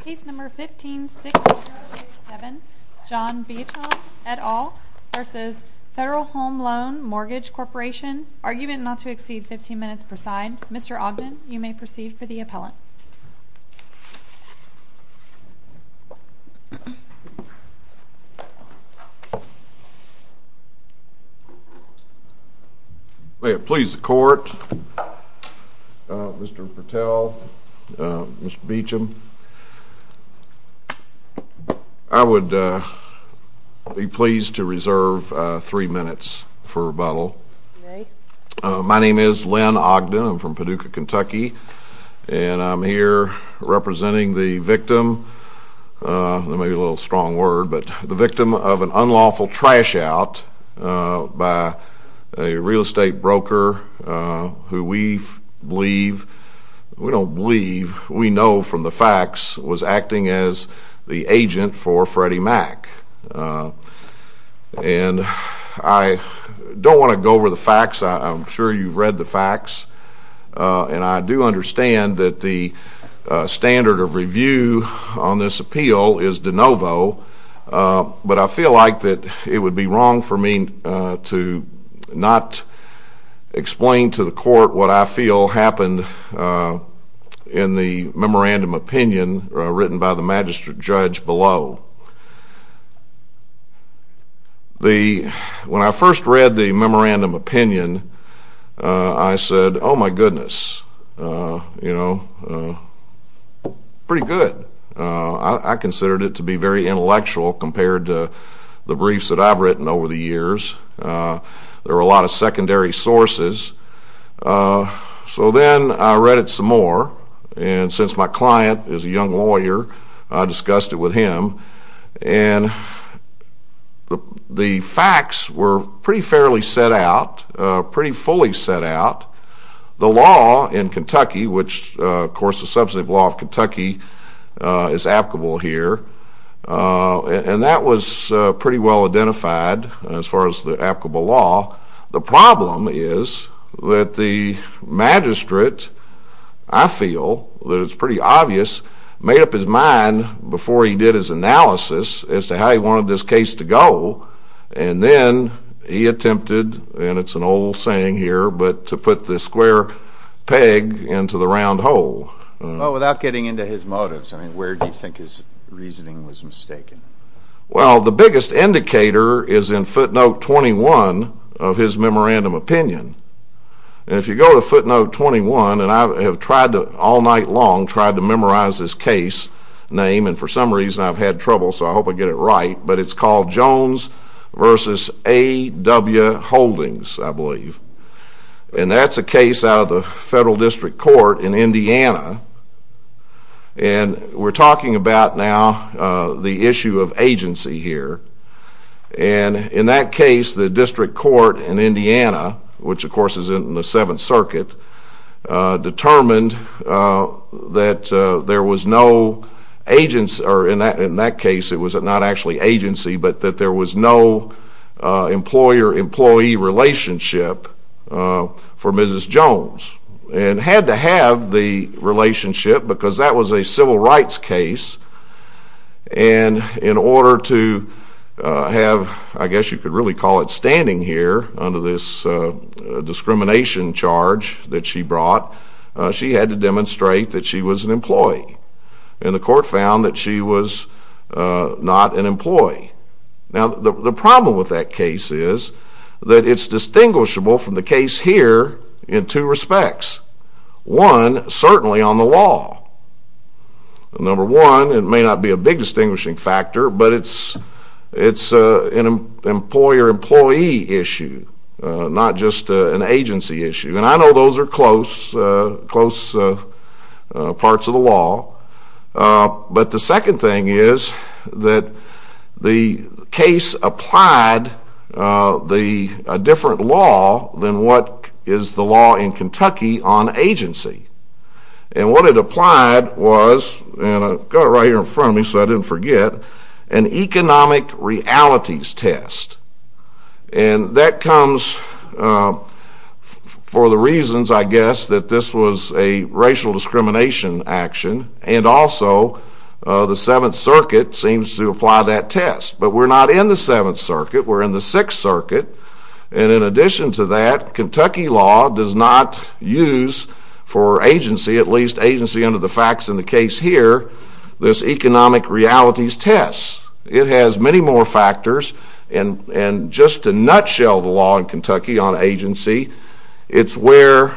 Case No. 15-6087, John Beauchamp, et al. v. Federal Home Loan Mortgage Corporation Argument not to exceed 15 minutes per side. Mr. Ogden, you may proceed for the appellant. May it please the Court, Mr. Patel, Mr. Beauchamp, I would be pleased to reserve three minutes for rebuttal. My name is Len Ogden, I'm from Paducah, Kentucky, and I'm here representing the victim, maybe a little strong word, but the victim of an unlawful trash out by a real estate broker who we believe, we don't believe, we know from the facts was acting as the agent for Freddie Mac. And I don't want to go over the facts, I'm sure you've read the facts, and I do understand that the standard of review on this appeal is de novo, but I feel like that it would be wrong for me to not explain to the Court what I feel happened in the memorandum opinion written by the magistrate judge below. When I first read the memorandum opinion, I said, oh my goodness, you know, pretty good. I considered it to be very intellectual compared to the briefs that I've written over the years. There were a lot of secondary sources. So then, I read it some more, and since my client is a young lawyer, I discussed it with him, and the facts were pretty fairly set out, pretty fully set out. The law in Kentucky, which of course the substantive law of Kentucky is applicable here, and that was pretty well I feel that it's pretty obvious, made up his mind before he did his analysis as to how he wanted this case to go, and then he attempted, and it's an old saying here, but to put the square peg into the round hole. Well, without getting into his motives, I mean, where do you think his reasoning was mistaken? Well, the biggest indicator is in footnote 21 of his memorandum opinion, and if you go to footnote 21, and I have tried to, all night long, tried to memorize this case name, and for some reason I've had trouble, so I hope I get it right, but it's called Jones v. A. W. Holdings, I believe, and that's a case out of the federal district court in Indiana, and we're talking about now the issue of agency here, and in that case, the district court in Indiana, which of course is in the Seventh Circuit, determined that there was no agency, or in that case, it was not actually agency, but that there was no employer-employee relationship for Mrs. Jones, and had to have the relationship because that was a civil rights case, and in order to have, I guess you could really call it standing here under this discrimination charge that she brought, she had to demonstrate that she was an employee, and the court found that she was not an employee. Now, the problem with that case is that it's distinguishable from the case here in two respects. One, certainly on the law. Number one, it may not be a big distinguishing factor, but it's an employer-employee issue, not just an agency issue, and I know those are close, close parts of the law, but the second thing is that the case applied a different law than what is the law in Kentucky on agency, and what it applied was, and I've got it right here in front of me so I didn't forget, an economic realities test, and that comes for the reasons, I guess, that this was a racial discrimination action, and also the Seventh Circuit seems to apply that test, but we're not in the Seventh Circuit. We're in the Sixth Circuit, and in addition to that, Kentucky law does not use for agency, at least agency under the facts in the case here, this economic realities test. It has many more factors, and just a nutshell, the law in Kentucky on agency, it's where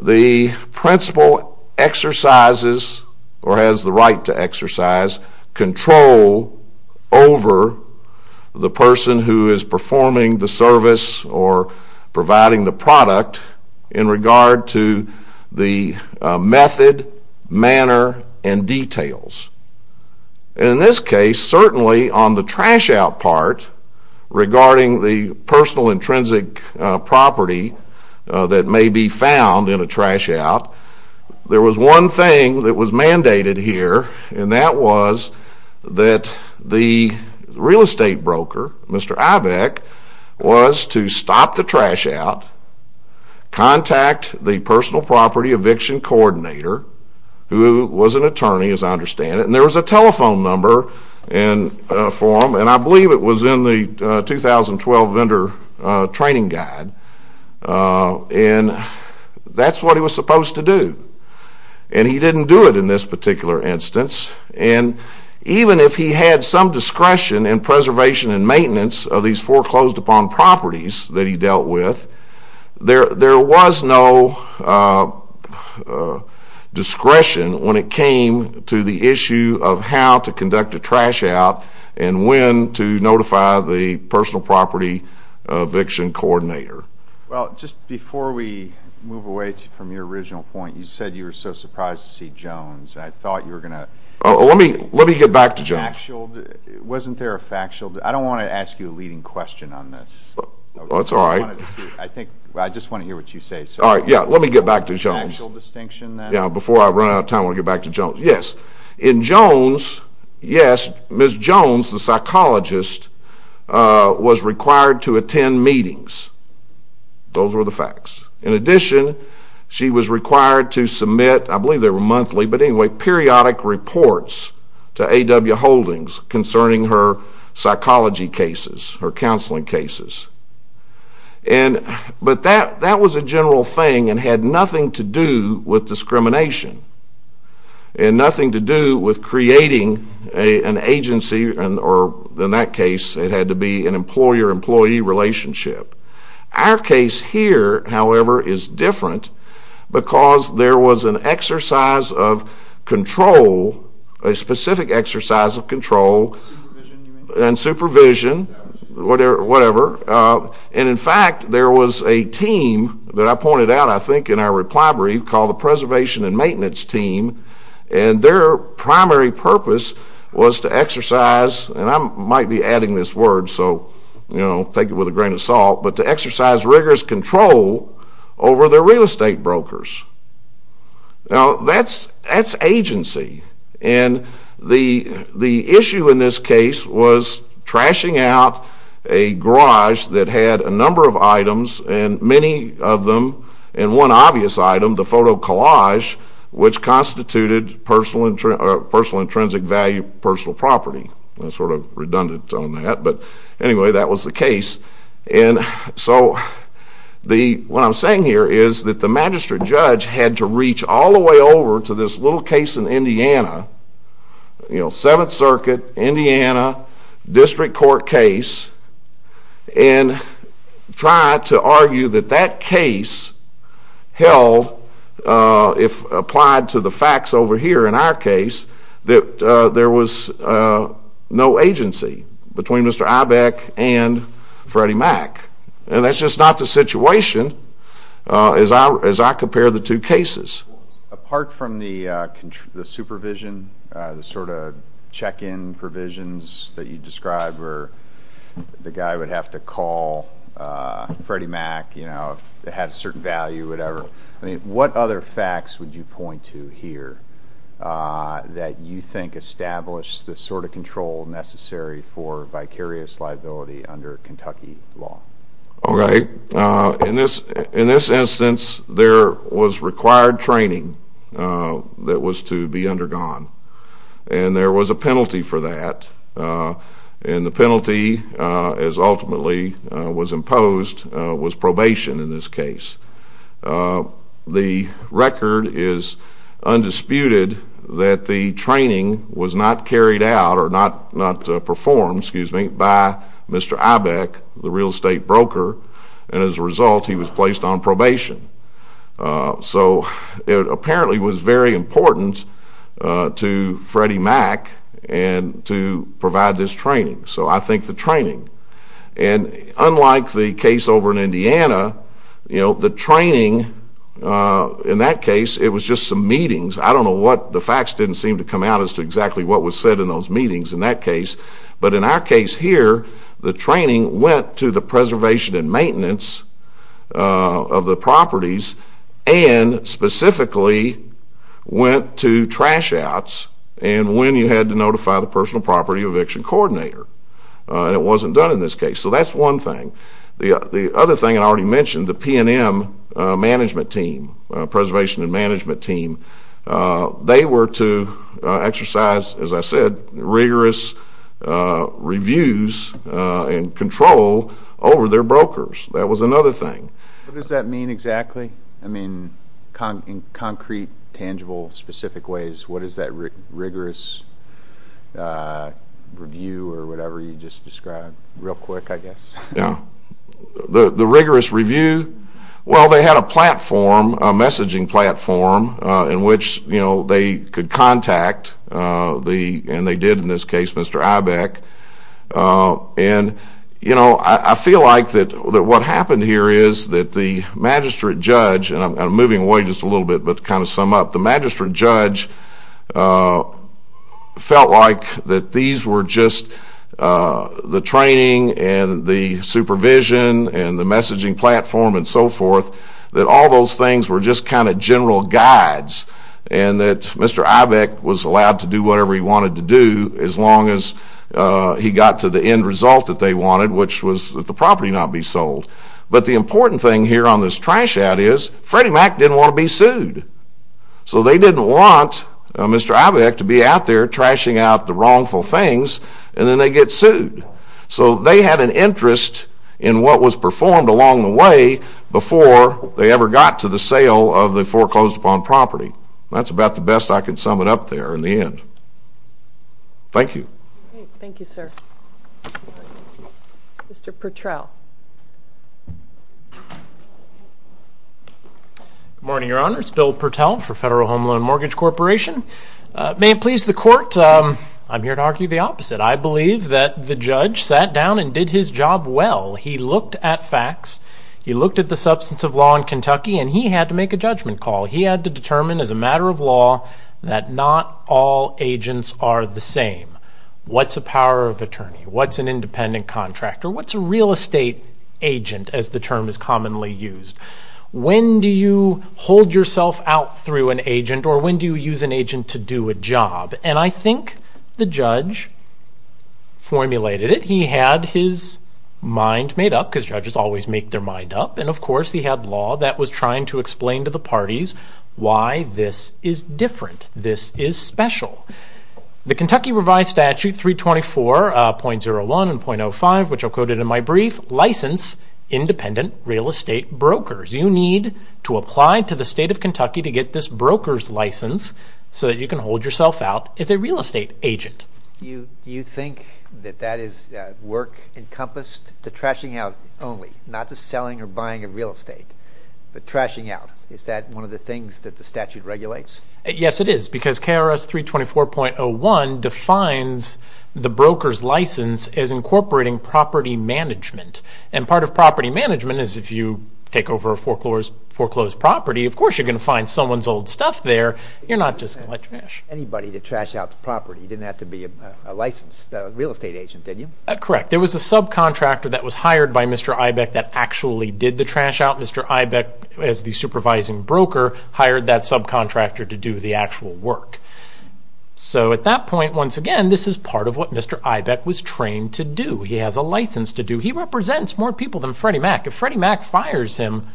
the principal exercises, or has the right to exercise, control over the person who is performing the service or providing the product in regard to the method, manner, and details, and in this case, certainly on the trash out part regarding the personal intrinsic property that may be found in a trash out, there was one thing that was mandated here, and that was that the real estate broker, Mr. Ibeck, was to stop the trash out, contact the personal property eviction coordinator, who was an attorney as I understand it, and there was a telephone number for him, and I believe it was in the 2012 vendor training guide, and that's what he was supposed to do, and he didn't do it in this particular instance, and even if he had some discretion in preservation and maintenance of these foreclosed upon properties that he dealt with, there was no discretion when it came to the issue of how to conduct a trash out and when to notify the personal property eviction coordinator. Well, just before we move away from your original point, you said you were so surprised to see Jones. I thought you were going to... Let me get back to Jones. Wasn't there a factual... I don't want to ask you a leading question on this. That's all right. I just want to hear what you say. All right, yeah, let me get back to Jones. Before I run out of time, I want to get back to Jones. Yes, in Jones, yes, Ms. Jones, the psychologist, was required to attend meetings. Those were the facts. In addition, she was required to submit, I believe they were monthly, but anyway, periodic reports to A.W. Holdings concerning her psychology cases, her counseling cases, but that was a general thing and had nothing to do with discrimination and nothing to do with creating an agency, or in that case, it had to be an employer-employee relationship. Our case here, however, is different because there was an exercise of control, a specific exercise of control and supervision, whatever, and in fact, there was a team that I pointed out, I think, in our reply brief called the Preservation and Maintenance Team, and their primary purpose was to exercise, and I might be adding this word, so, you know, take it with a grain of salt, but to exercise rigorous control over their real estate brokers. Now, that's agency, and the issue in this case was trashing out a garage that had a number of items, and many of them, and one obvious item, the photo collage, which constituted personal intrinsic value personal property. That's sort of redundant on that, but anyway, that was the case, and so what I'm saying here is that the magistrate judge had to reach all the way over to this little case in Indiana, you know, Seventh Circuit, Indiana, District Court case, and try to argue that that case held, if applied to the facts over here in our case, that there was no agency between Mr. Ibeck and Freddie Mac, and that's just not the situation as I compare the two cases. Apart from the supervision, the sort of check-in provisions that you described, where the guy would have to call Freddie Mac, you know, if it had a certain value, whatever. I mean, what other facts would you point to here that you think established the sort of control necessary for vicarious liability under Kentucky law? All right, in this instance, there was required training that was to be undergone, and there was a penalty for that, and the penalty, as ultimately was imposed, was probation in this case. The record is undisputed that the training was not carried out, or not performed, excuse me, by Mr. Ibeck, the real estate broker, and as a result, he was placed on probation. So it apparently was very important to Freddie Mac to provide this training. So I think the training, and unlike the case over in Indiana, you know, the training in that case, it was just some meetings. I don't know what the facts didn't seem to come out as to exactly what was said in those meetings in that case, but in our case here, the training went to the preservation and maintenance of the properties, and specifically went to trash outs, and when you had to notify the personal property eviction coordinator, and it wasn't done in this case. So that's one thing. The other thing I already mentioned, the P&M management team, preservation and management team, they were to exercise, as I said, rigorous reviews and control over their brokers. That was another thing. What does that mean exactly? I mean, in concrete, tangible, specific ways, what is that rigorous review or whatever you just described? Real quick, I guess. Yeah, the rigorous review, well, they had a platform, a messaging platform, in which, you know, they could contact the, and they did in this case, Mr. Ibeck, and, you know, I feel like that what happened here is that the magistrate judge, and I'm moving away just a little bit, but to kind of sum up, the magistrate judge felt like that these were just the training, and the supervision, and the messaging platform, and so forth, that all those things were just kind of general guides, and that Mr. Ibeck was allowed to do whatever he wanted to do as long as he got to the end result that they wanted, which was that the property not be sold, but the important thing here on this trash ad is Freddie Mac didn't want to be sued, so they didn't want Mr. Ibeck to be out there trashing out the wrongful things, and then they get sued, so they had an interest in what was performed along the way before they ever got to the sale of the foreclosed upon property. That's Mr. Purtrell. Good morning, Your Honor. It's Bill Purtell for Federal Home Loan Mortgage Corporation. May it please the Court, I'm here to argue the opposite. I believe that the judge sat down and did his job well. He looked at facts. He looked at the substance of law in Kentucky, and he had to make a judgment call. He had to determine as a matter of law that not all agents are the same. What's a power of attorney? What's an independent contractor? What's a real estate agent, as the term is commonly used? When do you hold yourself out through an agent, or when do you use an agent to do a job? And I think the judge formulated it. He had his mind made up, because judges always make their mind up, and of course he had law that was trying to explain to the parties why this is the case. In our statute, 324.01 and .05, which I'll quote it in my brief, license independent real estate brokers. You need to apply to the state of Kentucky to get this broker's license so that you can hold yourself out as a real estate agent. Do you think that that is work encompassed to trashing out only, not to selling or buying a real estate, but trashing out? Is that one of the things that the statute regulates? Yes, it is, because KRS 324.01 defines the broker's license as incorporating property management, and part of property management is if you take over a foreclosed property, of course you're going to find someone's old stuff there. You're not just going to let trash. Anybody to trash out the property, didn't have to be a licensed real estate agent, did you? Correct. There was a subcontractor that was hired by Mr. Ibeck that actually did the hired that subcontractor to do the actual work. So at that point, once again, this is part of what Mr. Ibeck was trained to do. He has a license to do. He represents more people than Freddie Mac. If Freddie Mac fires him,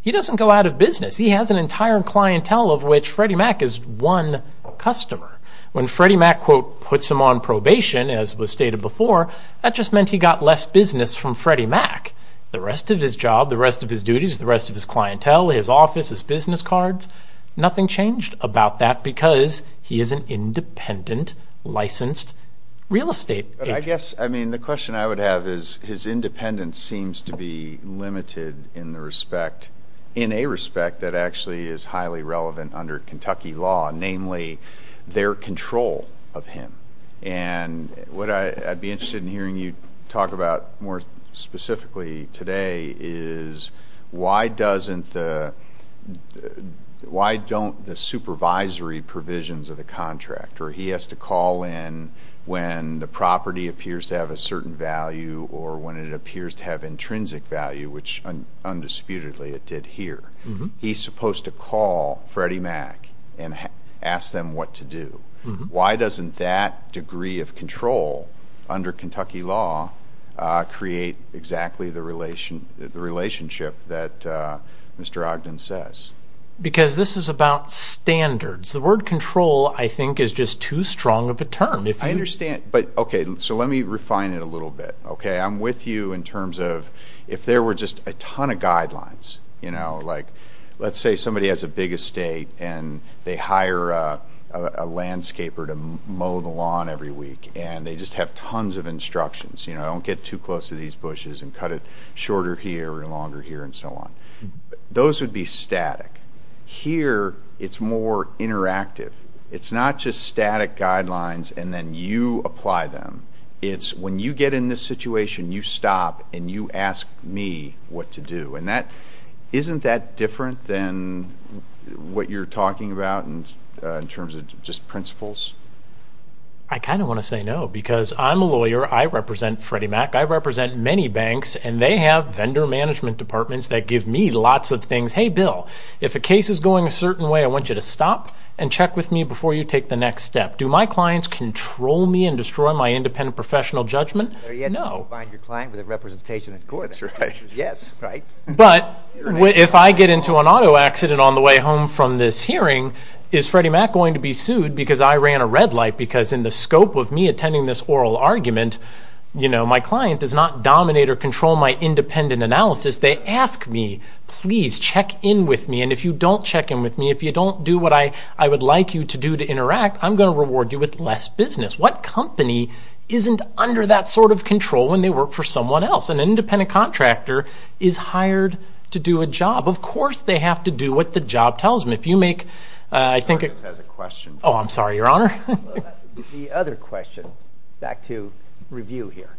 he doesn't go out of business. He has an entire clientele of which Freddie Mac is one customer. When Freddie Mac, quote, puts him on probation, as was stated before, that just meant he got less business from Freddie Mac. The rest of his job, the rest of his duties, the rest of his clientele, his office, his business cards, nothing changed about that because he is an independent licensed real estate agent. But I guess, I mean, the question I would have is his independence seems to be limited in the respect, in a respect that actually is highly relevant under Kentucky law, namely their control of him. And what I'd be interested in hearing you talk about more specifically today is why doesn't the, why don't the supervisory provisions of the contractor, he has to call in when the property appears to have a certain value or when it appears to have intrinsic value, which undisputedly it did here. He's supposed to call Freddie Mac and ask them what to do. Why doesn't that degree of control under Kentucky law create exactly the relation, the relationship that Mr. Ogden says? Because this is about standards. The word control, I think, is just too strong of a term. I understand, but okay, so let me refine it a little bit. Okay, I'm with you in terms of if there were just a ton of guidelines, you know, like let's say somebody has a big estate and they hire a landscaper to mow the lawn every week and they just have tons of instructions, you know, don't get too close to these bushes and cut it shorter here or longer here and so on. Those would be static. Here, it's more interactive. It's not just static guidelines and then you apply them. It's when you get in this situation, you stop and you ask me what to do. Isn't that different than what you're talking about in terms of just principles? I kind of want to say no because I'm a lawyer. I represent Freddie Mac. I represent many banks and they have vendor management departments that give me lots of things. Hey, Bill, if a case is going a certain way, I want you to stop and check with me before you take the next step. Do my clients control me and destroy my independent professional judgment? No. You find your client with a but if I get into an auto accident on the way home from this hearing, is Freddie Mac going to be sued because I ran a red light because in the scope of me attending this oral argument, you know, my client does not dominate or control my independent analysis. They ask me, please check in with me and if you don't check in with me, if you don't do what I would like you to do to interact, I'm going to reward you with less business. What company isn't under that sort control when they work for someone else? An independent contractor is hired to do a job. Of course, they have to do what the job tells them. If you make, I think it has a question. Oh, I'm sorry, your honor. The other question back to review here.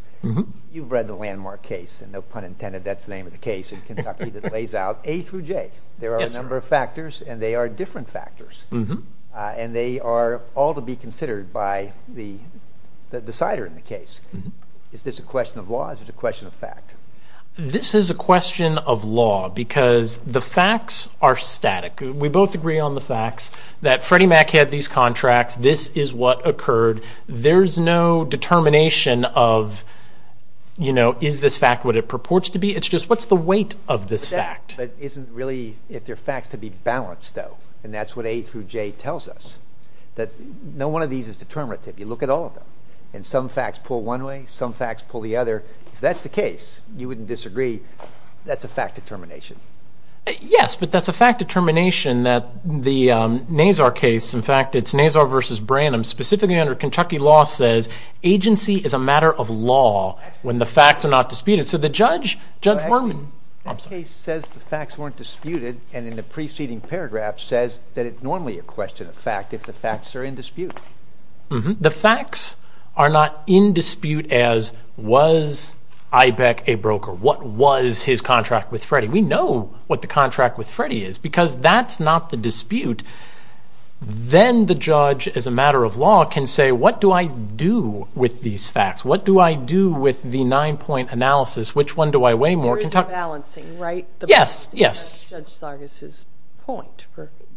You've read the landmark case and no pun intended. That's the name of the case in Kentucky that lays out A through J. There are a number of factors and they are different factors and they are all to be considered by the decider in the case. Is this a question of law or is it a question of fact? This is a question of law because the facts are static. We both agree on the facts that Freddie Mac had these contracts. This is what occurred. There's no determination of, you know, is this fact what it purports to be? It's just what's the weight of this fact? That isn't really, if they're facts, to be balanced though. And that's what A through J tells us. That no one of these is determinative. You look at all of them and some facts pull one way, some facts pull the other. If that's the case, you wouldn't disagree. That's a fact determination. Yes, but that's a fact determination that the NASAR case, in fact, it's NASAR versus Branham, specifically under Kentucky law says agency is a matter of law when the facts are not disputed. So the judge, Judge Berman. The case says the facts weren't disputed and in the preceding paragraph says that it's normally a question of fact if the facts are in dispute. The facts are not in dispute as was Ibeck a broker? What was his contract with Freddie? We know what the contract with Freddie is because that's not the dispute. Then the judge, as a matter of law, can say what do I do with these facts? What do I with the nine-point analysis? Which one do I weigh more? It's balancing, right? Yes, yes. That's Judge Sargas' point.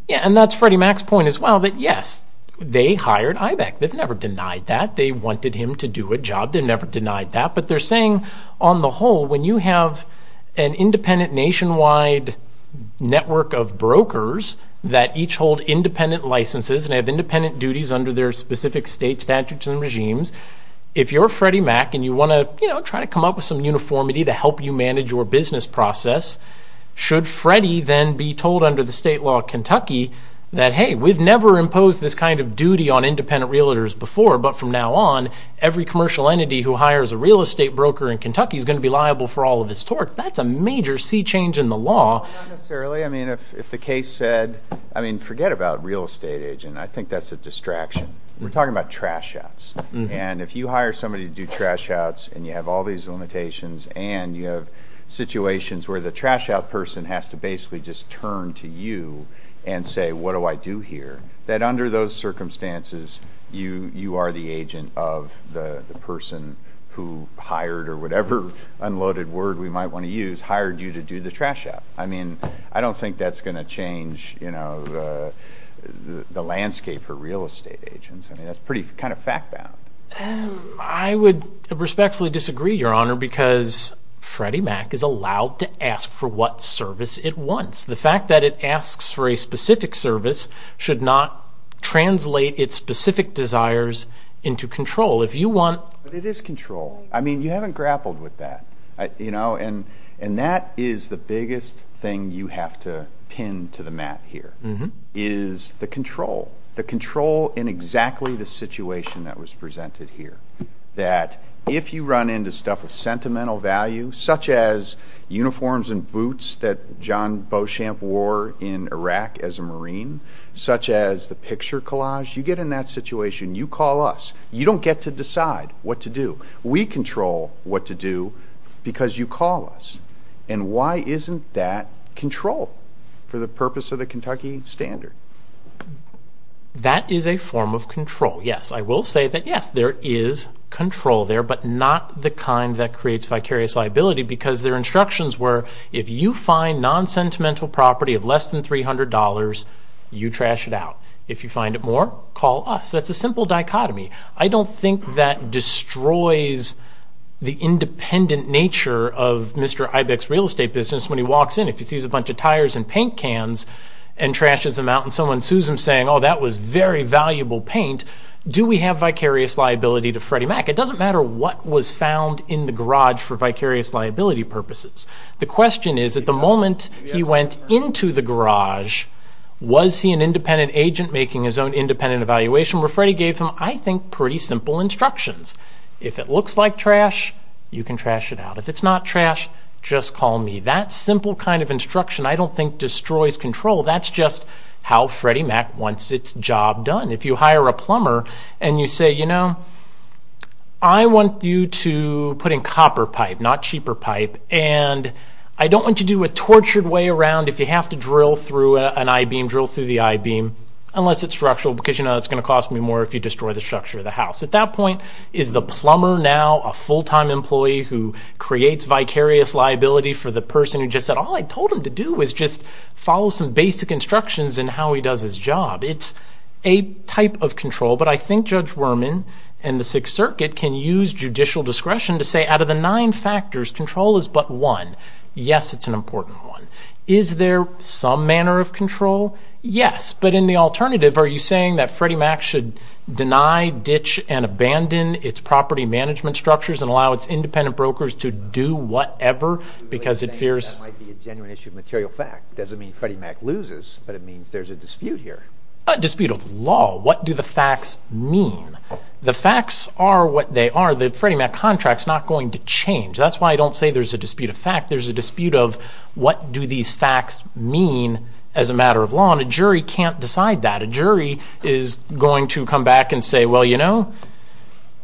Yeah, and that's Freddie Mac's point as well that yes, they hired Ibeck. They've never denied that. They wanted him to do a job. They never denied that, but they're saying on the whole when you have an independent nationwide network of brokers that each hold independent licenses and have independent duties under their specific state statutes and regimes, if you're Freddie Mac and try to come up with some uniformity to help you manage your business process, should Freddie then be told under the state law of Kentucky that hey, we've never imposed this kind of duty on independent realtors before, but from now on, every commercial entity who hires a real estate broker in Kentucky is going to be liable for all of this torque. That's a major sea change in the law. Not necessarily. If the case said, forget about real estate agent. I think that's a distraction. We're talking about trash outs. If you hire somebody to do trash outs and you have all these limitations and you have situations where the trash out person has to basically just turn to you and say, what do I do here? That under those circumstances, you are the agent of the person who hired or whatever unloaded word we might want to use, hired you to do the trash out. I don't think that's going to change the landscape for real estate agents. That's pretty kind of fact bound. I would respectfully disagree, your honor, because Freddie Mac is allowed to ask for what service it wants. The fact that it asks for a specific service should not translate its specific desires into control. It is control. You haven't grappled with that. That is the biggest thing you have to pin to the mat here, is the control. The control in exactly the situation that was presented here. That if you run into stuff with sentimental value, such as uniforms and boots that John Beauchamp wore in Iraq as a Marine, such as the picture collage, you get in that situation, you call us. You don't get to decide what to do. We control what to do because you call us. And why isn't that control for the purpose of the Kentucky standard? That is a form of control, yes. I will say that, yes, there is control there, but not the kind that creates vicarious liability because their instructions were, if you find non-sentimental property of less than $300, you trash it out. If you find it more, call us. That's a simple dichotomy. I don't think that destroys the independent nature of Mr. Ibex's real estate business when he walks in. If he sees a bunch of tires and paint cans and trashes them out and someone sues him saying, oh, that was very valuable paint, do we have vicarious liability to Freddie Mack? It doesn't matter what was found in the garage for vicarious liability purposes. The question is, at the moment he went into the garage, was he an independent agent making his own pretty simple instructions. If it looks like trash, you can trash it out. If it's not trash, just call me. That simple kind of instruction I don't think destroys control. That's just how Freddie Mack wants its job done. If you hire a plumber and you say, you know, I want you to put in copper pipe, not cheaper pipe, and I don't want you to do a tortured way around if you have to drill through an I-beam, drill through the I-beam, unless it's structural because you know it's going to cost me more if you destroy the structure of the house. At that point, is the plumber now a full-time employee who creates vicarious liability for the person who just said, all I told him to do was just follow some basic instructions in how he does his job? It's a type of control, but I think Judge Werman and the Sixth Circuit can use judicial discretion to say, out of the nine factors, control is but one. Yes, it's an important one. Is there some manner of control? Yes, but in the alternative, are you saying that Freddie Mack should deny, ditch, and abandon its property management structures and allow its independent brokers to do whatever because it fears... That might be a genuine issue of material fact. Doesn't mean Freddie Mack loses, but it means there's a dispute here. A dispute of law. What do the facts mean? The facts are what they are. The Freddie Mack contract is not going to change. That's why I don't say there's a dispute of fact. There's a dispute of what these facts mean as a matter of law, and a jury can't decide that. A jury is going to come back and say, well, you know,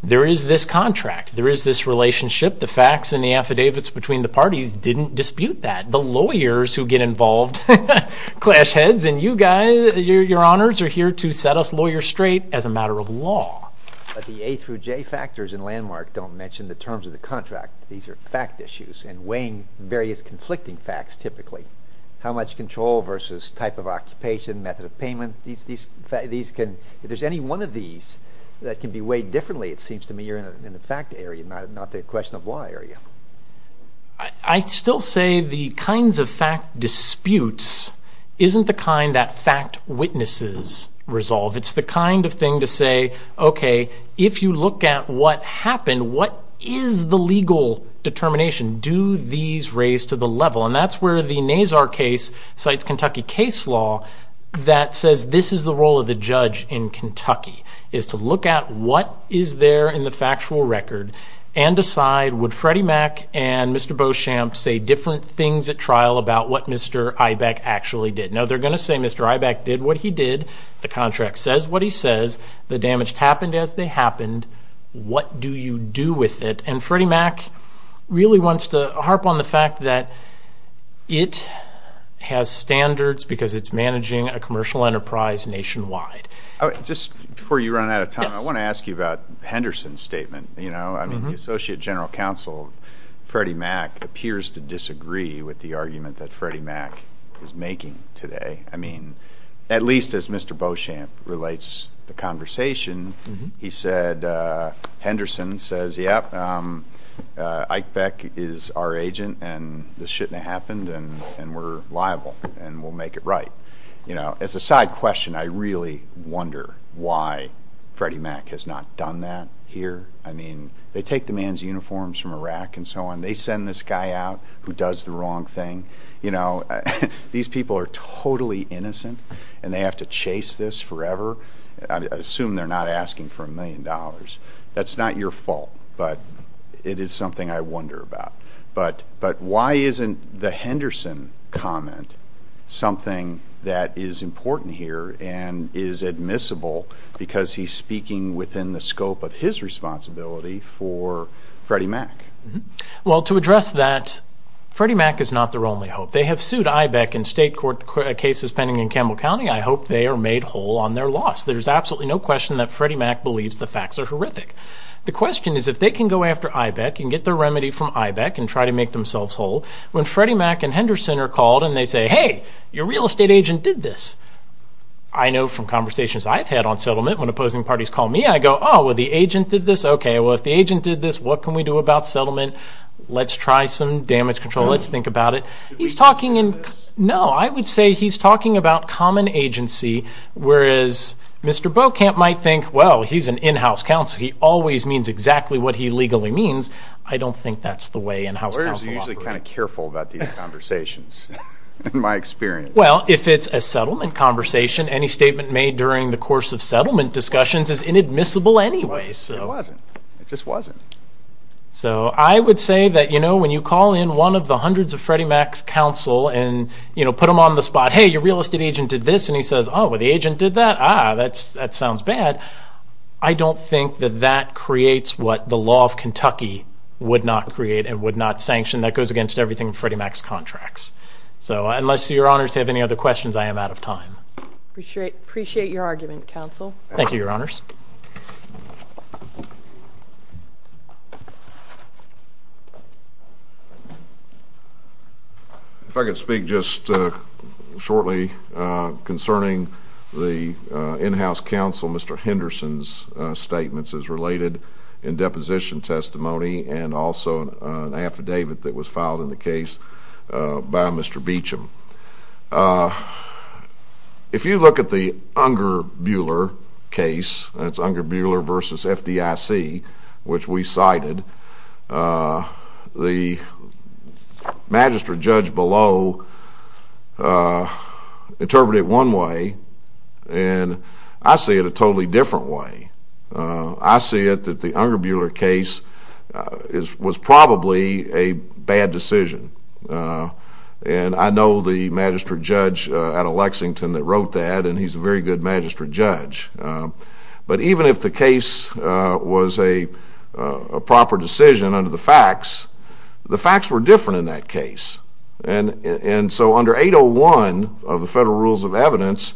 there is this contract. There is this relationship. The facts and the affidavits between the parties didn't dispute that. The lawyers who get involved, clash heads, and you guys, your honors, are here to set us lawyers straight as a matter of law. But the A through J factors in Landmark don't mention the terms of the contract. These are fact issues and weighing various conflicting facts typically. How much control versus type of occupation, method of payment. If there's any one of these that can be weighed differently, it seems to me you're in the fact area, not the question of law area. I still say the kinds of fact disputes isn't the kind that fact witnesses resolve. It's the kind of thing to say, okay, if you look at what happened, what is the legal determination? Do these raise to the level? And that's where the Nazar case cites Kentucky case law that says this is the role of the judge in Kentucky, is to look at what is there in the factual record and decide would Freddie Mac and Mr. Beauchamp say different things at trial about what Mr. Eibach actually did? Now, they're going to say Mr. Eibach did what he did. The contract says what he says. The damage happened as they happened. What do you do with it? And Freddie Mac really wants to harp on the fact that it has standards because it's managing a commercial enterprise nationwide. Oh, just before you run out of time, I want to ask you about Henderson's statement. You know, I mean, the Associate General Counsel, Freddie Mac, appears to disagree with the argument that today. I mean, at least as Mr. Beauchamp relates the conversation, he said, Henderson says, yep, Eichbech is our agent and this shouldn't have happened and we're liable and we'll make it right. You know, as a side question, I really wonder why Freddie Mac has not done that here. I mean, they take the man's uniforms from Iraq and so on. They send this guy out who does the wrong thing. You know, these people are totally innocent and they have to chase this forever. I assume they're not asking for a million dollars. That's not your fault, but it is something I wonder about. But why isn't the Henderson comment something that is important here and is admissible because he's speaking within the scope of his responsibility for Freddie Mac? Well, to address that, Freddie Mac is not their only hope. They have sued Eichbech in state court cases pending in Campbell County. I hope they are made whole on their loss. There's absolutely no question that Freddie Mac believes the facts are horrific. The question is if they can go after Eichbech and get their remedy from Eichbech and try to make themselves whole. When Freddie Mac and Henderson are called and they say, hey, your real estate agent did this. I know from conversations I've had on settlement when opposing parties call me, I go, oh, well, the agent did this. Okay. Well, if the agent did this, what can we do about settlement? Let's try some damage control. Let's think about it. He's talking in, no, I would say he's talking about common agency, whereas Mr. Beaucamp might think, well, he's an in-house counsel. He always means exactly what he legally means. I don't think that's the way in-house counsel operate. I'm usually kind of careful about these conversations in my experience. Well, if it's a settlement conversation, any statement made during the course of settlement discussions is inadmissible anyway. It wasn't. It just wasn't. So I would say that when you call in one of the hundreds of Freddie Mac's counsel and put them on the spot, hey, your real estate agent did this, and he says, oh, well, the agent did that. Ah, that sounds bad. I don't think that that creates what the law of Kentucky would not create and would not sanction. That goes against everything Freddie Mac's contracts. So unless your honors have any other questions, I am out of time. Appreciate your argument, counsel. Thank you, your honors. If I could speak just shortly concerning the in-house counsel, Mr. Henderson's statements as related in deposition testimony and also an affidavit that was filed in the case by Mr. Beauchamp. If you look at the Unger-Buehler case, that's Unger-Buehler versus FDIC, which we cited, the magistrate judge below interpreted it one way, and I see it a totally different way. And I know the magistrate judge out of Lexington that wrote that, and he's a very good magistrate judge. But even if the case was a proper decision under the facts, the facts were different in that case. And so under 801 of the Federal Rules of Evidence,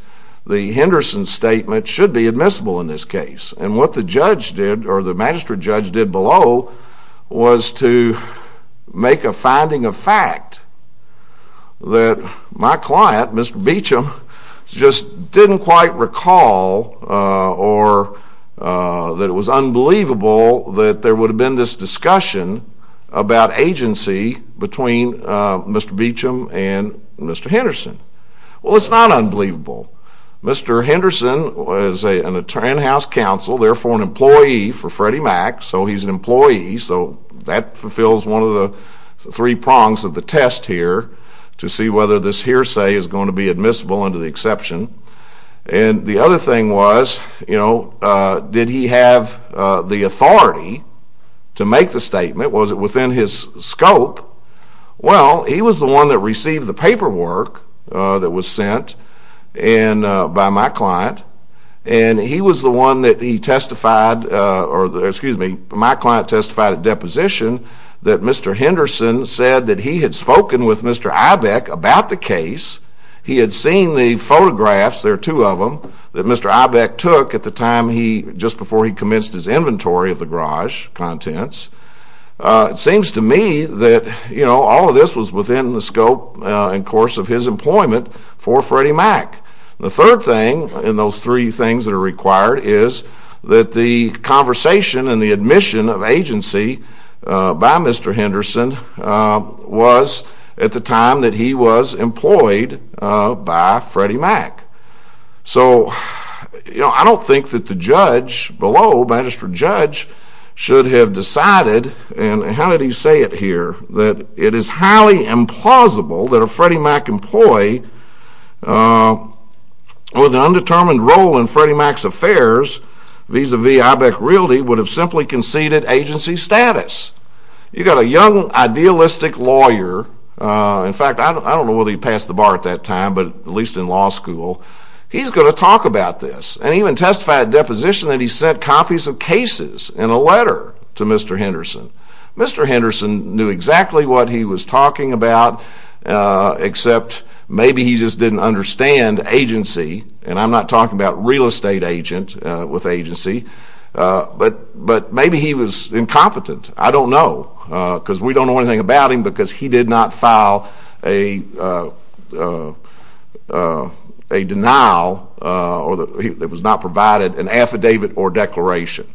the Henderson statement should be admissible in this case. And what the judge did, or the magistrate judge did below, was to make a finding of fact that my client, Mr. Beauchamp, just didn't quite recall or that it was unbelievable that there would have been this discussion about agency between Mr. Beauchamp and Mr. Henderson. Well, it's not Freddie Mac, so he's an employee, so that fulfills one of the three prongs of the test here to see whether this hearsay is going to be admissible under the exception. And the other thing was, you know, did he have the authority to make the statement? Was it within his scope? Well, he was the one that received the paperwork that was sent by my client, and he was the one that he testified, or excuse me, my client testified at deposition that Mr. Henderson said that he had spoken with Mr. Ibeck about the case. He had seen the photographs, there are two of them, that Mr. Ibeck took at the time he, just before he commenced his inventory of the garage contents. It seems to me that, you know, all of this was within the scope and course of his employment for Freddie Mac. The third thing in those three things that are required is that the conversation and the admission of agency by Mr. Henderson was at the time that he was employed by Freddie Mac. So, you know, I don't think that the judge below, magistrate judge, should have decided, and how did say it here, that it is highly implausible that a Freddie Mac employee with an undetermined role in Freddie Mac's affairs vis-a-vis Ibeck Realty would have simply conceded agency status. You got a young idealistic lawyer, in fact, I don't know whether he passed the bar at that time, but at least in law school, he's going to talk about this and even testify at deposition that he sent copies of cases and a letter to Mr. Henderson. Mr. Henderson knew exactly what he was talking about, except maybe he just didn't understand agency, and I'm not talking about real estate agent with agency, but maybe he was incompetent. I don't know, because we don't know anything about him, because he did not file a denial, or it was not provided an affidavit or declaration.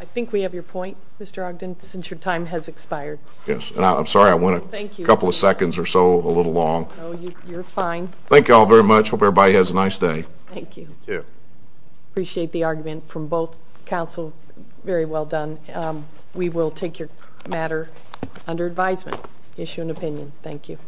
I think we have your point, Mr. Ogden, since your time has expired. Yes, and I'm sorry I went a couple of seconds or so a little long. Oh, you're fine. Thank you all very much. Hope everybody has a nice day. Thank you. Appreciate the argument from both counsel. Very well done. We will take your matter under advisement. Issue an opinion. Thank you.